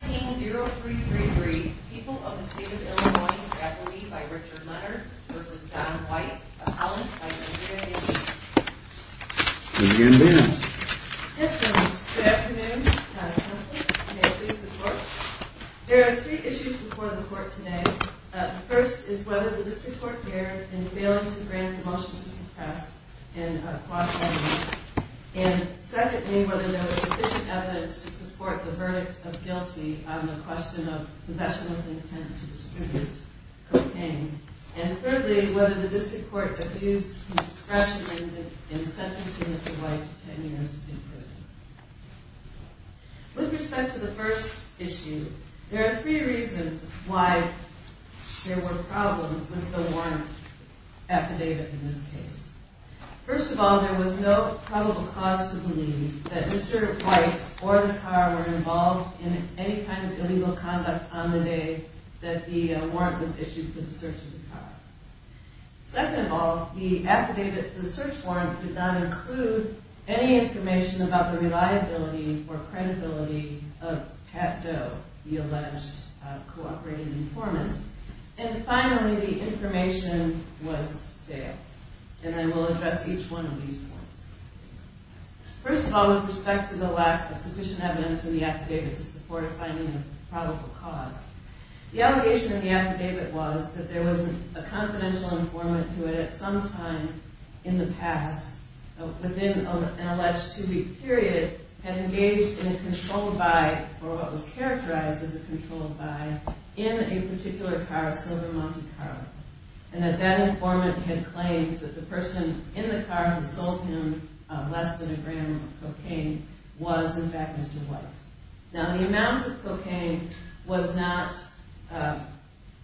190333 People of the State of Illinois, faculty, by Richard Leonard, v. Don White, appellant, by Andrea Newton. Good afternoon. Yes, gentlemen, good afternoon. Madam Assembly, may I please the Court? There are three issues before the Court today. The first is whether the District Court dared in failing to grant a motion to suppress in a quasi-miss. And secondly, whether there was sufficient evidence to support the verdict of guilty on the question of possession of intent to distribute cocaine. And thirdly, whether the District Court abused the discretion in sentencing Mr. White to ten years in prison. With respect to the first issue, there are three reasons why there were problems with the warrant affidavit in this case. First of all, there was no probable cause to believe that Mr. White or the car were involved in any kind of illegal conduct on the day that the warrant was issued for the search of the car. Second of all, the affidavit for the search warrant did not include any information about the reliability or credibility of Pat Doe, the alleged cooperating informant. And finally, the information was stale. And I will address each one of these points. First of all, with respect to the lack of sufficient evidence in the affidavit to support finding a probable cause, the allegation in the affidavit was that there was a confidential informant who had at some time in the past, within an alleged two-week period, had engaged in a controlled by, or what was characterized as a controlled by, in a particular car, a silver Monte Carlo. And that that informant had claimed that the person in the car who sold him less than a gram of cocaine was, in fact, Mr. White. Now, the amount of cocaine was not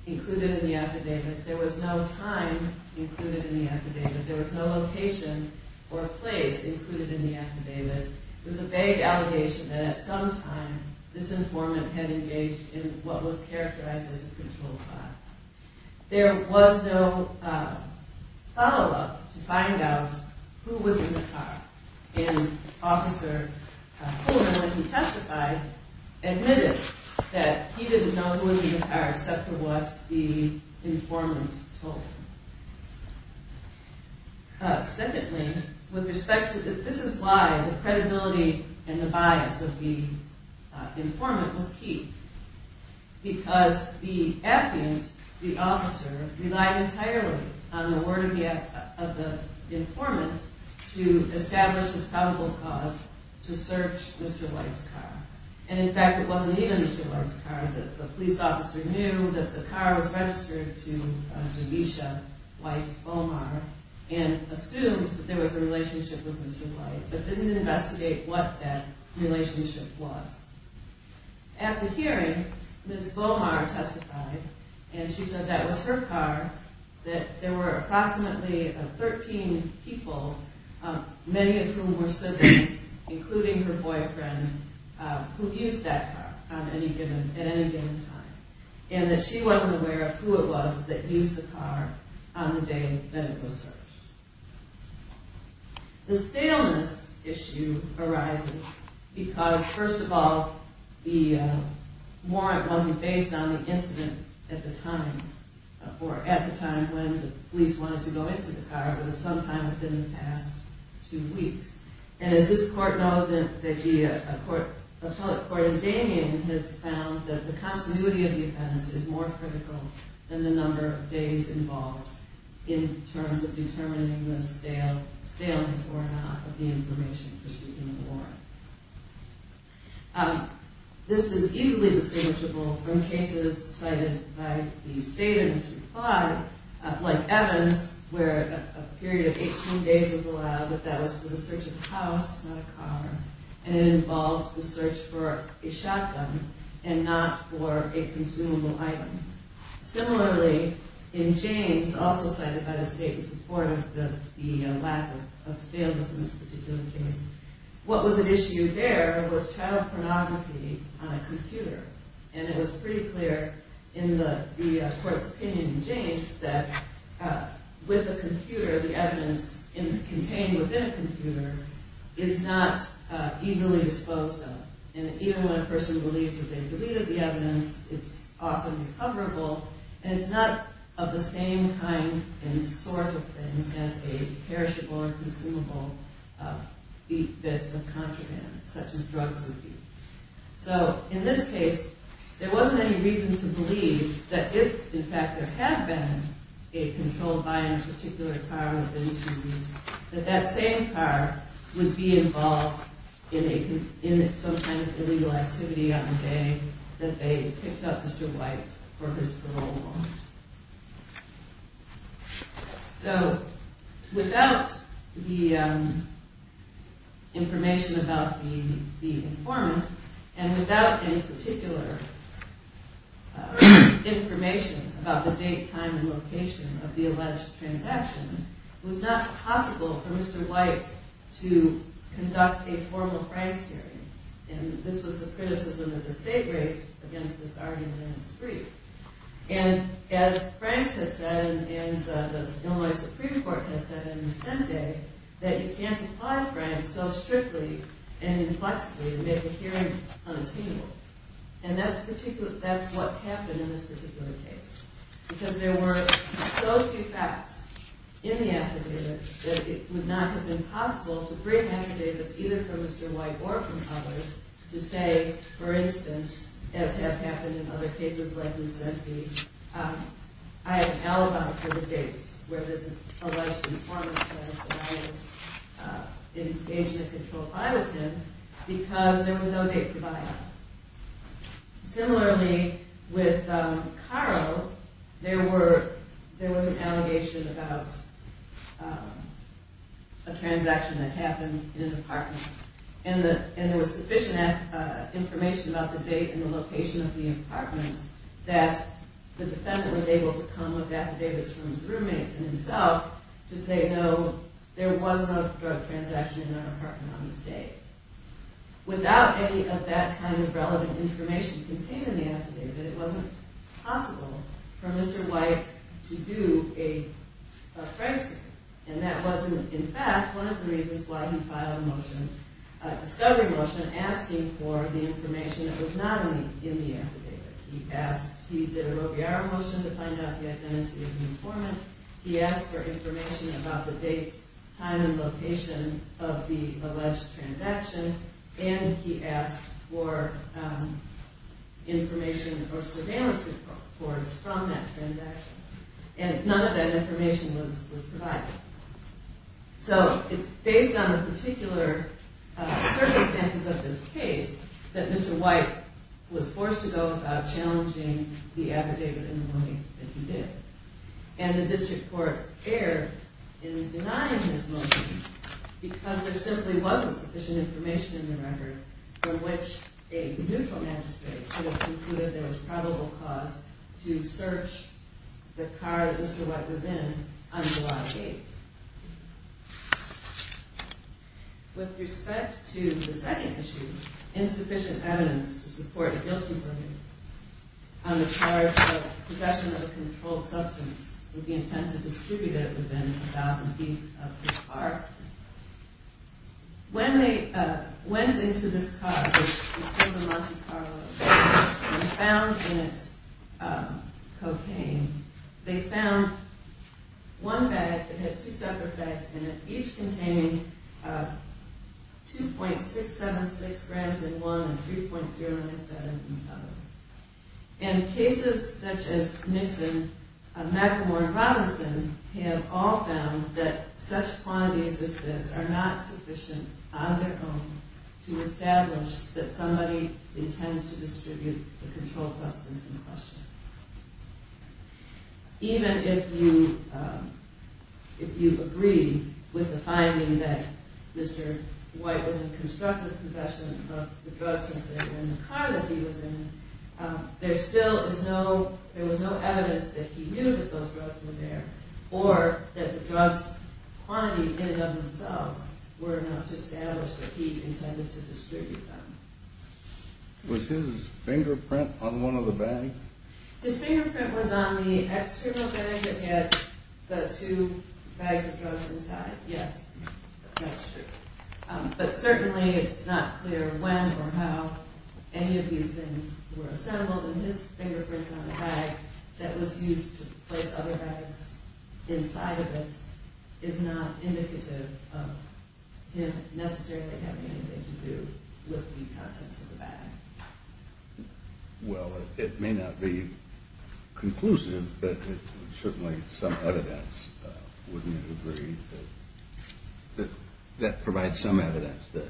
included in the affidavit. There was no time included in the affidavit. There was no location or place included in the affidavit. There was a vague allegation that at some time this informant had engaged in what was characterized as a controlled by. There was no follow-up to find out who was in the car. And Officer Coleman, when he testified, admitted that he didn't know who was in the car except for what the informant told him. Secondly, with respect to, this is why the credibility and the bias of the informant was key. Because the affidavit, the officer relied entirely on the word of the informant to establish his probable cause to search Mr. White's car. And, in fact, it wasn't even Mr. White's car. The police officer knew that the car was registered to DeVisha White-Bomar and assumed that there was a relationship with Mr. White, but didn't investigate what that relationship was. At the hearing, Ms. Bomar testified, and she said that was her car, that there were approximately 13 people, many of whom were surgeons, including her boyfriend, who used that car at any given time. And that she wasn't aware of who it was that used the car on the day that it was searched. The staleness issue arises because, first of all, the warrant wasn't based on the incident at the time, or at the time when the police wanted to go into the car, but it was sometime within the past two weeks. And, as this court knows, an appellate court in Damien has found that the continuity of the offense is more critical than the number of days involved in terms of determining the staleness or not of the information pursued in the warrant. This is easily distinguishable from cases cited by the state in its reply, like Evans, where a period of 18 days was allowed, but that was for the search of a house, not a car, and it involved the search for a shotgun and not for a consumable item. Similarly, in James, also cited by the state in support of the lack of staleness in this particular case, what was at issue there was child pornography on a computer. And it was pretty clear in the court's opinion in James that with a computer, the evidence contained within a computer is not easily disposed of. And even when a person believes that they've deleted the evidence, it's often recoverable, and it's not of the same kind and sort of things as a perishable or consumable bit of contraband, such as drugs would be. So, in this case, there wasn't any reason to believe that if, in fact, there had been a control by a particular car within two weeks, that that same car would be involved in some kind of illegal activity on a day that they picked up Mr. White for his parole warrant. So, without the information about the informant, and without any particular information about the date, time, and location of the alleged transaction, it was not possible for Mr. White to conduct a formal price hearing. And this was the criticism that the state raised against this argument in its brief. And as Franks has said, and the Illinois Supreme Court has said in the same day, that you can't apply Franks so strictly and inflexibly to make a hearing unattainable. And that's what happened in this particular case, because there were so few facts in the affidavit that it would not have been possible to bring affidavits either from Mr. White or from others to say, for instance, as has happened in other cases like Lucente, I am alibi for the date where this alleged informant says that I was engaged in a control by with him because there was no date provided. Similarly, with Caro, there was an allegation about a transaction that happened in an apartment, and there was sufficient information about the date and the location of the apartment that the defendant was able to come with affidavits from his roommates and himself to say, no, there was no drug transaction in that apartment on this date. Without any of that kind of relevant information contained in the affidavit, it wasn't possible for Mr. White to do a phrasing. And that was, in fact, one of the reasons why he filed a motion, a discovery motion, asking for the information that was not in the affidavit. He did a Robillard motion to find out the identity of the informant. He asked for information about the date, time, and location of the alleged transaction, and he asked for information or surveillance reports from that transaction. And none of that information was provided. So it's based on the particular circumstances of this case that Mr. White was forced to go about challenging the affidavit and the motion that he did. And the district court erred in denying his motion because there simply wasn't sufficient information in the record from which a neutral magistrate could have concluded there was probable cause to search the car that Mr. White was in on July 8th. With respect to the second issue, insufficient evidence to support a guilty verdict on the charge of possession of a controlled substance with the intent to distribute it within 1,000 feet of the car. When they went into this car, the Silver Monte Carlo, and found in it cocaine, they found one bag that had two separate bags in it, each containing 2.676 grams in one and 3.397 in the other. And cases such as Nixon, McElmore, and Robinson have all found that such quantities as this are not sufficient on their own to establish that somebody intends to distribute the controlled substance in question. Even if you agree with the finding that Mr. White was in constructive possession of the drugs that were in the car that he was in, there was still no evidence that he knew that those drugs were there or that the drugs quantities in and of themselves were enough to establish that he intended to distribute them. Was his fingerprint on one of the bags? His fingerprint was on the external bag that had the two bags of drugs inside. Yes, that's true. But certainly it's not clear when or how any of these things were assembled, and his fingerprint on the bag that was used to place other bags inside of it is not indicative of him necessarily having anything to do with the contents of the bag. Well, it may not be conclusive, but certainly some evidence, wouldn't you agree, that that provides some evidence that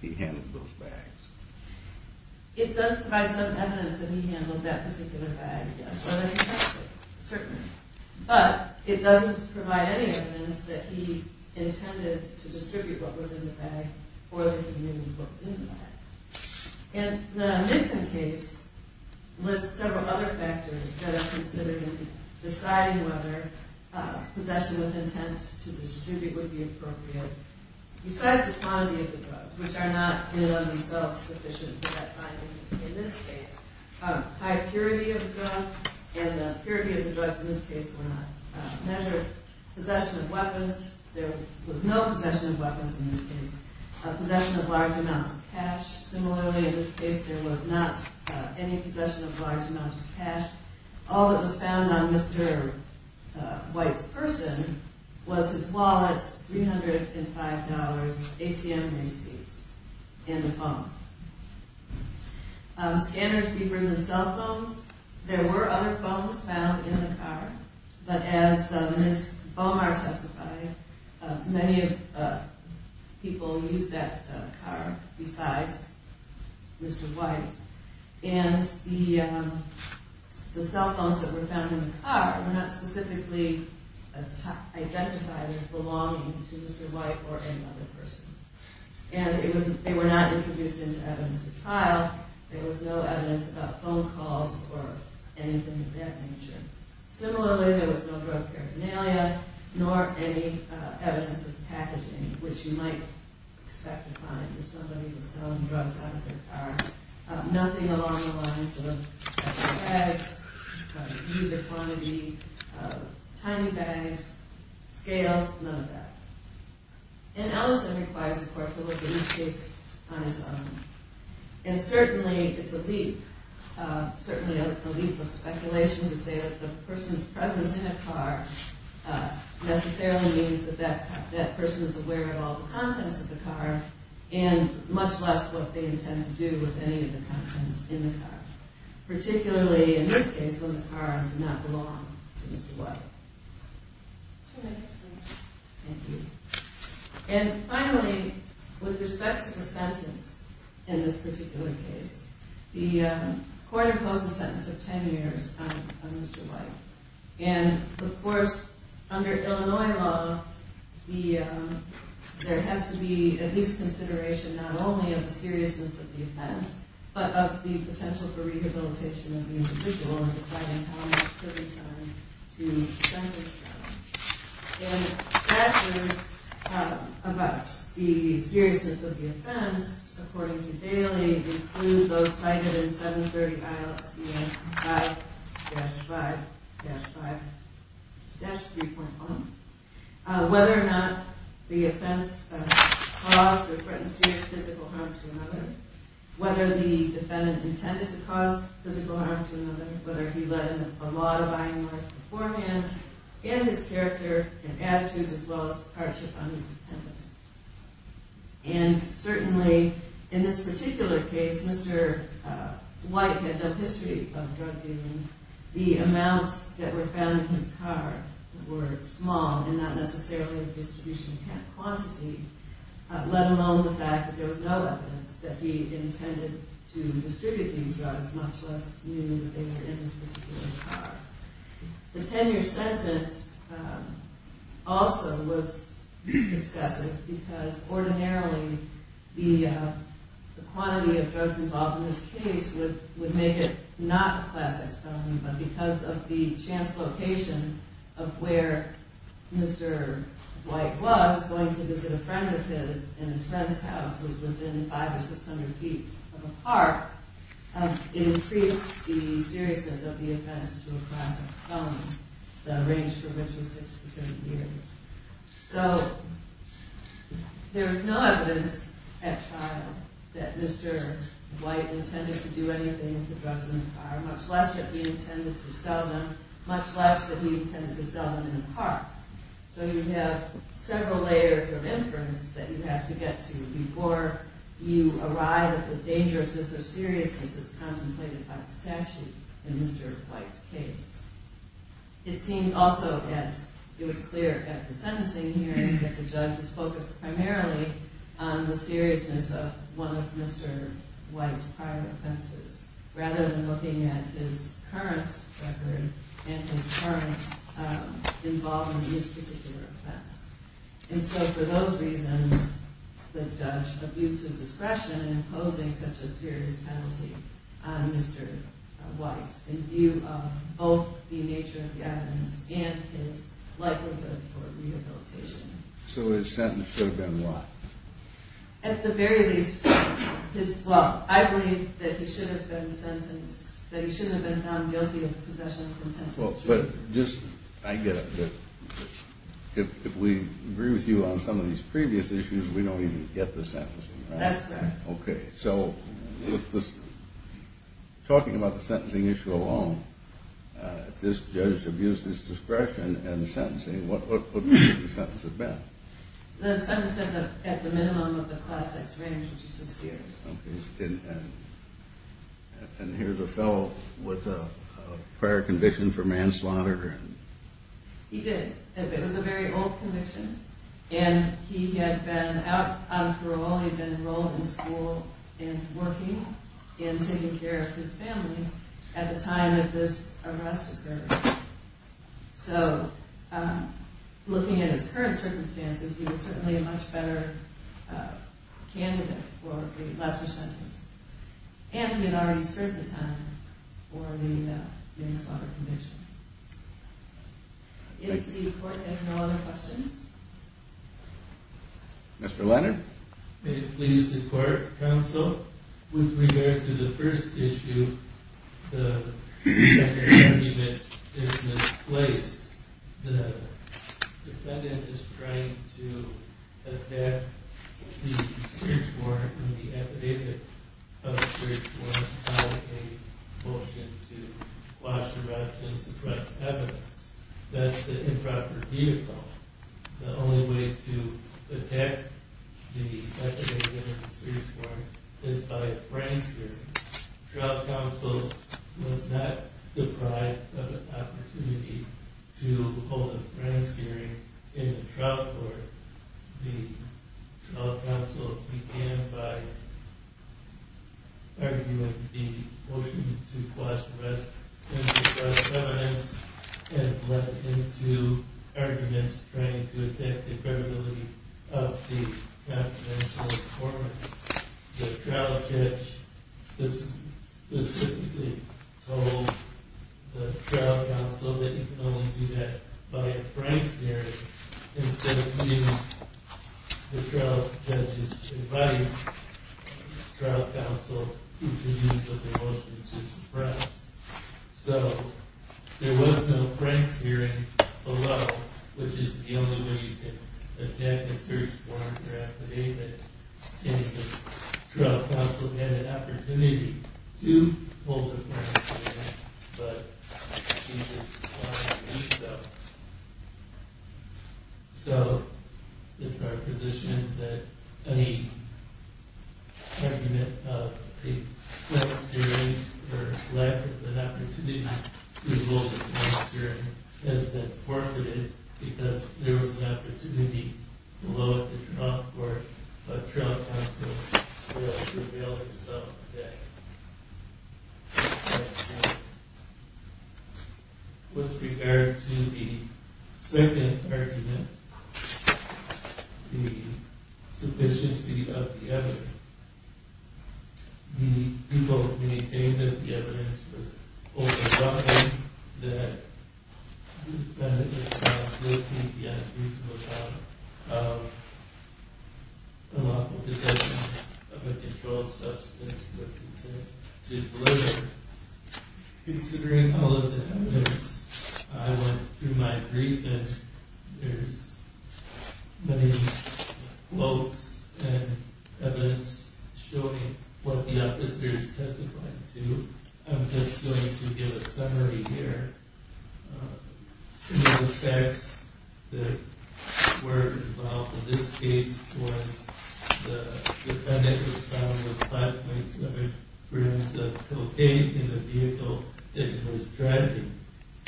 he handled those bags? It does provide some evidence that he handled that particular bag, yes, but it doesn't provide any evidence that he intended to distribute what was in the bag or that he knew what was in the bag. And the Nixon case lists several other factors that are considered in deciding whether possession with intent to distribute would be appropriate. Besides the quantity of the drugs, which are not in and of themselves sufficient at that time, in this case, high purity of the drug and the purity of the drugs in this case were not measured. Possession of weapons, there was no possession of weapons in this case. Possession of large amounts of cash, similarly in this case there was not any possession of large amounts of cash. All that was found on Mr. White's person was his wallet, $305, ATM receipts, and a phone. Scanners, keepers, and cell phones, there were other phones found in the car, but as Ms. Bomar testified, many people used that car besides Mr. White. And the cell phones that were found in the car were not specifically identified as belonging to Mr. White or any other person. And they were not introduced into evidence of trial, there was no evidence about phone calls or anything of that nature. Similarly, there was no drug paraphernalia, nor any evidence of packaging, which you might expect to find if somebody was selling drugs out of their car. Nothing along the lines of bags, user quantity, tiny bags, scales, none of that. And Ellison requires the court to look at each case on its own. And certainly it's a leap, certainly a leap of speculation to say that the person's presence in a car necessarily means that that person is aware of all the contents of the car, and much less what they intend to do with any of the contents in the car. Particularly in this case when the car did not belong to Mr. White. Two minutes left. Thank you. And finally, with respect to the sentence in this particular case, the court imposed a sentence of 10 years on Mr. White. And of course, under Illinois law, there has to be at least consideration not only of the seriousness of the offense, but of the potential for rehabilitation of the individual in deciding how much prison time to sentence them. And factors about the seriousness of the offense, according to Daley, include those cited in 730 ILCS 5-5-5-3.1. Whether or not the offense caused or threatened serious physical harm to another, whether the defendant intended to cause physical harm to another, whether he led a lot of buying life beforehand, and his character and attitudes as well as hardship on his dependents. And certainly in this particular case, Mr. White had a history of drug dealing. The amounts that were found in his car were small and not necessarily a distribution quantity, let alone the fact that there was no evidence that he intended to distribute these drugs, much less knew that they were in his particular car. The 10-year sentence also was excessive because ordinarily the quantity of drugs involved in this case would make it not a classic felony, but because of the chance location of where Mr. White was, going to visit a friend of his in his friend's house, which was within five or six hundred feet of a park, it increased the seriousness of the offense to a classic felony, the range for which was six to ten years. So, there was no evidence at trial that Mr. White intended to do anything with the drugs in the car, much less that he intended to sell them, much less that he intended to sell them in a park. So you have several layers of inference that you have to get to before you arrive at the dangerousness or seriousness as contemplated by the statute in Mr. White's case. It seemed also that it was clear at the sentencing hearing that the judge was focused primarily on the seriousness of one of Mr. White's prior offenses, rather than looking at his current record and his current involvement in this particular offense. And so for those reasons, the judge abused his discretion in imposing such a serious penalty on Mr. White in view of both the nature of the evidence and his likelihood for rehabilitation. So his sentence should have been what? At the very least, his, well, I believe that he should have been sentenced, that he shouldn't have been found guilty of possession of contentious drugs. Well, but just, I get it, that if we agree with you on some of these previous issues, we don't even get the sentencing, right? That's correct. Okay, so, talking about the sentencing issue alone, if this judge abused his discretion in sentencing, what would the sentence have been? The sentence at the minimum of the Class X range, which is sincere. Okay, and here's a fellow with a prior conviction for manslaughter. He did. It was a very old conviction, and he had been out of parole, he had been enrolled in school and working in taking care of his family at the time that this arrest occurred. So, looking at his current circumstances, he was certainly a much better candidate for a lesser sentence. And he had already served the time for the manslaughter conviction. If the court has no other questions? Mr. Leonard? May it please the court, counsel, with regard to the first issue, the second argument is misplaced. The defendant is trying to attack the search warrant and the affidavit of the search warrant by a motion to quash arrests and suppress evidence. That's the improper vehicle. The only way to attack the affidavit of the search warrant is by a frank hearing. The trial counsel was not deprived of an opportunity to hold a frank hearing in the trial court. The trial counsel began by arguing the motion to quash arrests and suppress evidence and led into arguments trying to attack the credibility of the confidential search warrant. The trial judge specifically told the trial counsel that you can only do that by a frank hearing instead of the trial judge's advice. The trial counsel continued with the motion to suppress. So, there was no frank hearing below, which is the only way you can attack the search warrant or affidavit. The trial counsel had an opportunity to hold a frank hearing, but he just wanted to do so. So, it's our position that any argument of a frank hearing or lack of an opportunity to hold a frank hearing has been forfeited because there was an opportunity below at the trial court, but trial counsel will reveal himself again. With regard to the second argument, the sufficiency of the evidence. The people maintained that the evidence was oversophisticated, that the evidence was not good, that the evidence was not of a lawful possession of a controlled substance or content to deliver. Considering all of the evidence, I went through my brief and there's many quotes and evidence showing what the officers testified to. I'm just going to give a summary here. Some of the facts that were involved in this case was the defendant was found with 5.7 grams of cocaine in the vehicle that he was driving.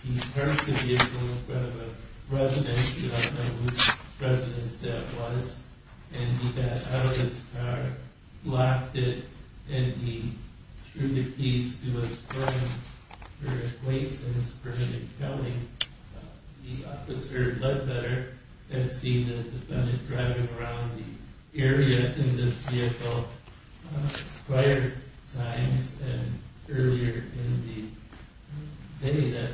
He parked the vehicle in front of a residence, you don't know which residence that was, and he got out of his car, locked it, and he threw the keys to his apartment. The officer had seen the defendant driving around the area in this vehicle prior times and earlier in the day that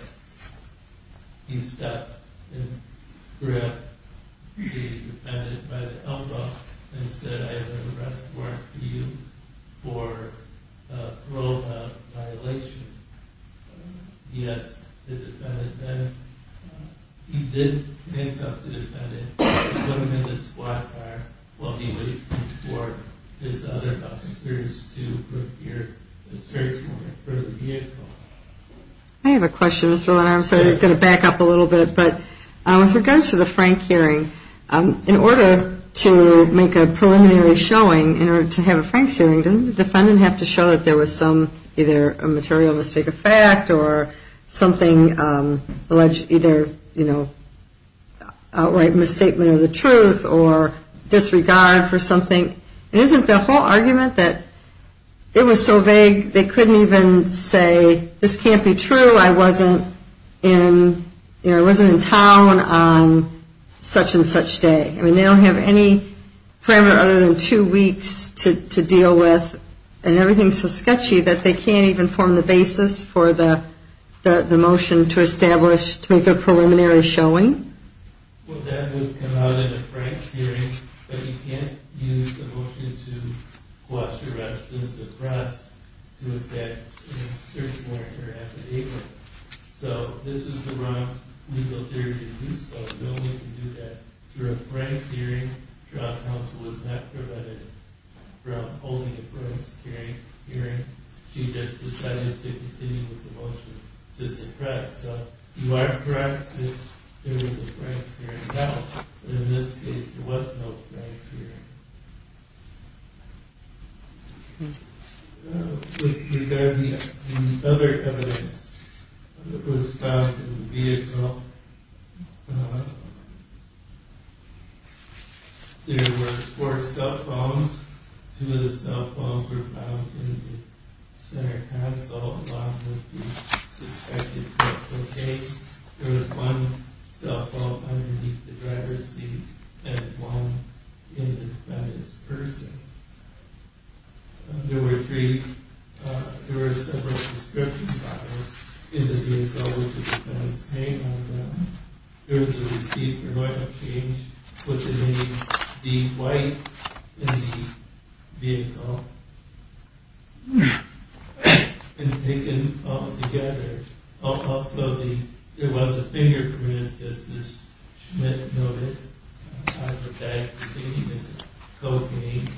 he stopped and threw out the defendant by the elbow and said I have an arrest warrant for you for a probe of violation. Yes, the defendant then, he did handcuff the defendant, put him in the squad car while he waited for his other officers to prepare the search warrant for the vehicle. I have a question, Mr. Leonard. I'm going to back up a little bit. With regards to the Frank hearing, in order to make a preliminary showing, in order to have a Frank's hearing, doesn't the defendant have to show that there was some either a material mistake of fact or something alleged either outright misstatement of the truth or disregard for something? Isn't the whole argument that it was so vague they couldn't even say this can't be true, I wasn't in town on such and such day. They don't have any parameter other than two weeks to deal with and everything is so sketchy that they can't even form the basis for the motion to establish, to make a preliminary showing? Well, that would come out in a Frank's hearing, but you can't use the motion to quash arrest and suppress to establish a search warrant for an affidavit. So, this is the wrong legal theory to do so. There's no way to do that. Through a Frank's hearing, trial counsel was not prevented from holding a Frank's hearing. She just decided to continue with the motion to suppress. So, you are correct that there was a Frank's hearing held, but in this case there was no Frank's hearing. With regard to the other evidence that was found in the vehicle, there were four cell phones. Two of the cell phones were found in the center console along with the suspected drug cocaine. There was one cell phone underneath the driver's seat and one in the defendant's purse. There were three, there were several prescription bottles in the vehicle with the defendant's name on them. There was a receipt for an oil change with the name Dean White in the vehicle. And taken all together, also there was a fingerprint as Ms. Schmidt noted on the bag containing the cocaine.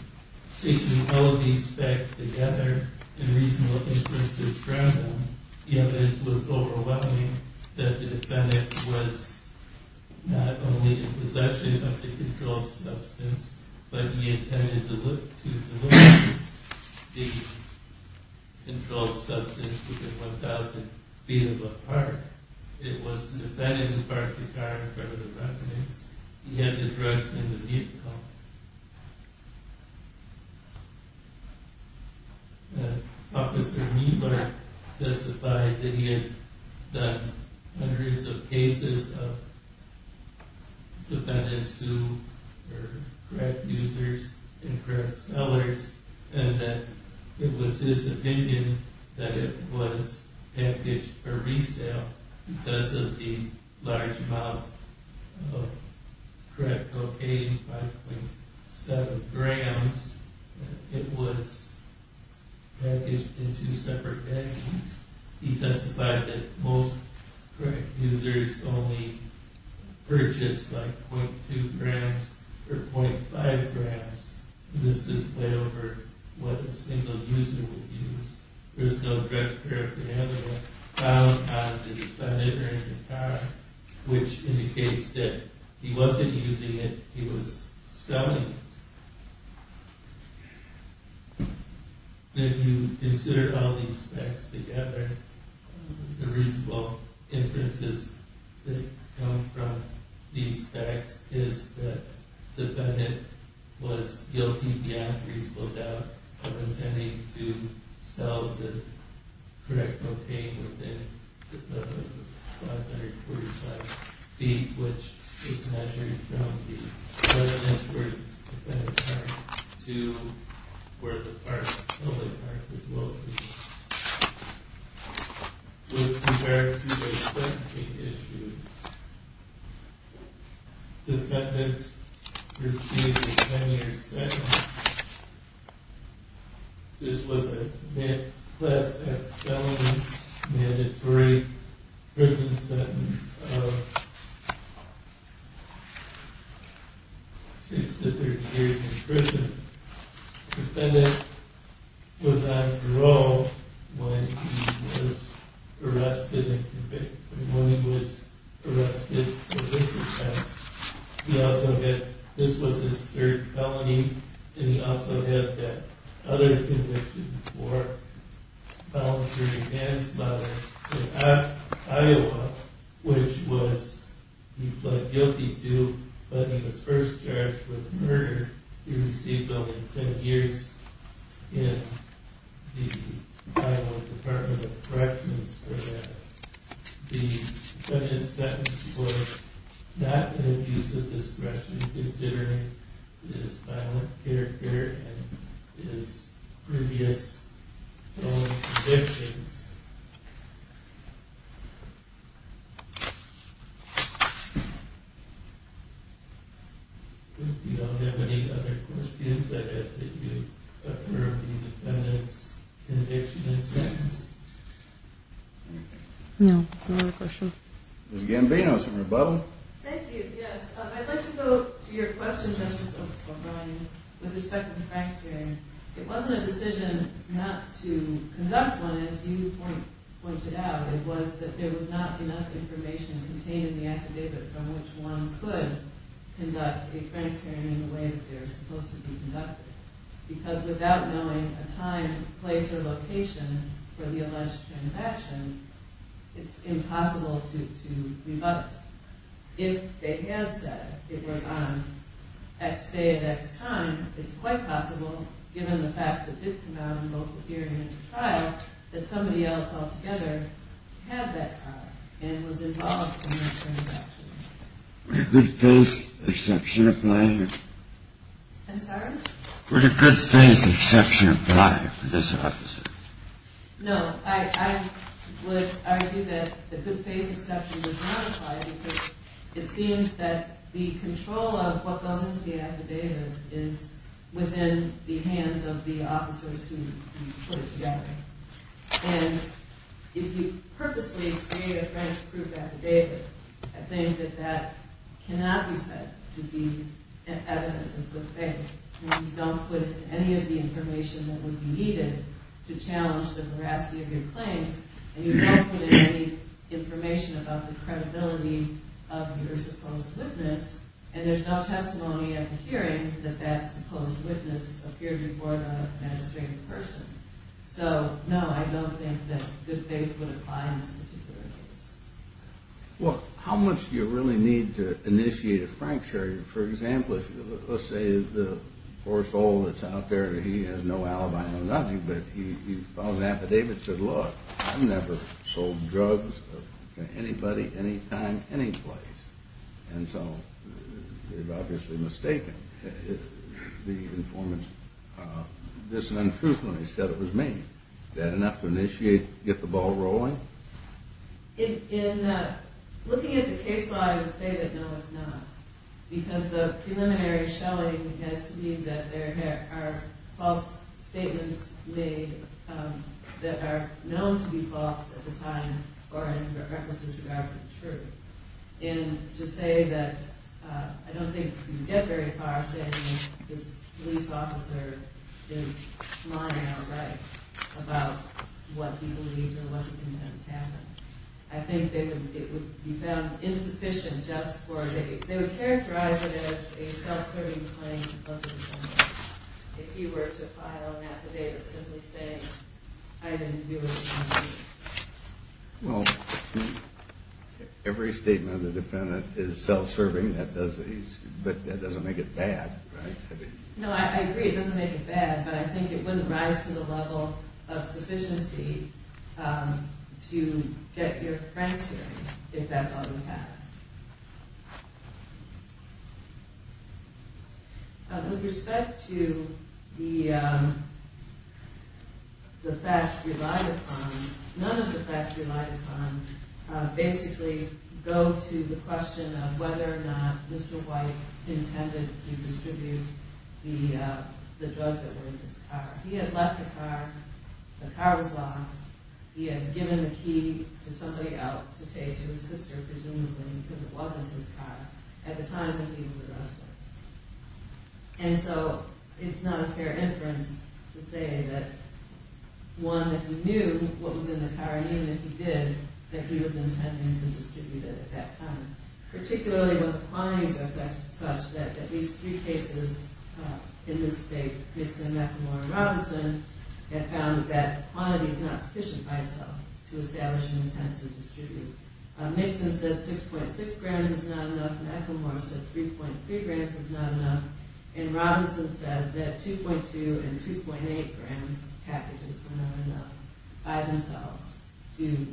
Taking all these facts together and reasonable inferences from them, the evidence was overwhelming that the defendant was not only in possession of the controlled substance, but he intended to deliver the controlled substance within 1,000 feet of a park. It was the defendant who parked the car in front of the presidents. He had the drugs in the vehicle. Officer Mieler testified that he had done hundreds of cases of defendants who were crack users and crack sellers and that it was his opinion that it was packaged for resale because of the large amount of crack cocaine, 5.7 grams, it was packaged in two separate packages. He testified that most crack users only purchase like .2 grams or .5 grams. This is way over what a single user would use. There's no drug paraphernalia found on the defendant or in the car, which indicates that he wasn't using it, he was selling it. If you consider all these facts together, the reasonable inferences that come from these facts is that the defendant was guilty beyond reasonable doubt of intending to sell the correct cocaine within 545 feet, which is measured from the entrance to the park to where the public park is located. This was compared to a sentencing issue. Defendants received a 10 year sentence. This was a class X felony mandatory prison sentence of 6 to 30 years in prison. The defendant was on parole when he was arrested for this offense. This was his third felony and he also had that other conviction for voluntary manslaughter in Iowa, which was he pled guilty to but he was first charged with murder. He received only 10 years in the Iowa Department of Corrections for that. The defendant's sentence was not an abuse of discretion considering his violent character and his previous felony convictions. If you don't have any other questions, I guess that you've approved the defendant's conviction and sentence? No, no other questions. Ms. Gambino, some rebuttal? Thank you, yes. I'd like to go to your question, Justice O'Brien, with respect to the Franks hearing. It wasn't a decision not to conduct one, as you pointed out. It was that there was not enough information contained in the affidavit from which one could conduct a Franks hearing in the way that they're supposed to be conducted. Because without knowing a time, place, or location for the alleged transaction, it's impossible to rebut it. If they had said it was on X day at X time, it's quite possible, given the facts that did come out in both the hearing and the trial, that somebody else altogether had that card and was involved in that transaction. Would a good-faith exception apply? I'm sorry? Would a good-faith exception apply for this officer? No, I would argue that the good-faith exception does not apply because it seems that the control of what goes into the affidavit is within the hands of the officers who put it together. And if you purposely create a Franks-approved affidavit, I think that that cannot be said to be evidence of good faith. You don't put in any of the information that would be needed to challenge the veracity of your claims, and you don't put in any information about the credibility of your supposed witness, and there's no testimony at the hearing that that supposed witness appeared before the magistrate in person. So, no, I don't think that good faith would apply in this particular case. Well, how much do you really need to initiate a Frank charge? For example, let's say the poor soul that's out there, he has no alibi or nothing, but he files an affidavit and says, look, I've never sold drugs to anybody, anytime, anyplace. And so, they've obviously mistaken the informant's dis- and untruthfulness. He said it was me. Is that enough to initiate, get the ball rolling? In looking at the case law, I would say that no, it's not. Because the preliminary shelling has to mean that there are false statements made that are known to be false at the time or in reckless disregard for the truth. And to say that, I don't think you can get very far saying that this police officer is lying outright about what he believes or what he intends to happen. I think it would be found insufficient just for, they would characterize it as a self-serving claim to public integrity if he were to file an affidavit simply saying, I didn't do it. Well, every statement of the defendant is self-serving, but that doesn't make it bad, right? No, I agree, it doesn't make it bad, but I think it wouldn't rise to the level of sufficiency to get your friends hearing if that's all you have. With respect to the facts relied upon, none of the facts relied upon basically go to the question of whether or not Mr. White intended to distribute the drugs that were in his car. He had left the car, the car was locked, he had given the key to somebody else to take, to his sister presumably, because it wasn't his car at the time that he was arrested. And so, it's not a fair inference to say that one, that he knew what was in the car, even if he did, that he was intending to distribute it at that time. Particularly when quantities are such that at least three cases in this state, Nixon, McElmore, and Robinson, have found that quantity is not sufficient by itself to establish an intent to distribute. Nixon said 6.6 grams is not enough, McElmore said 3.3 grams is not enough, and Robinson said that 2.2 and 2.8 gram packages were not enough by themselves to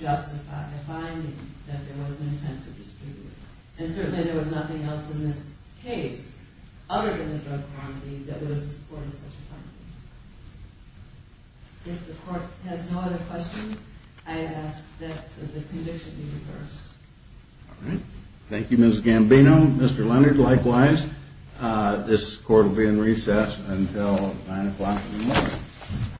justify. By finding that there was an intent to distribute, and certainly there was nothing else in this case other than the drug quantity that would have supported such a finding. If the court has no other questions, I ask that the conviction be reversed. Thank you Ms. Gambino, Mr. Leonard, likewise. This court will be in recess until 9 o'clock in the morning.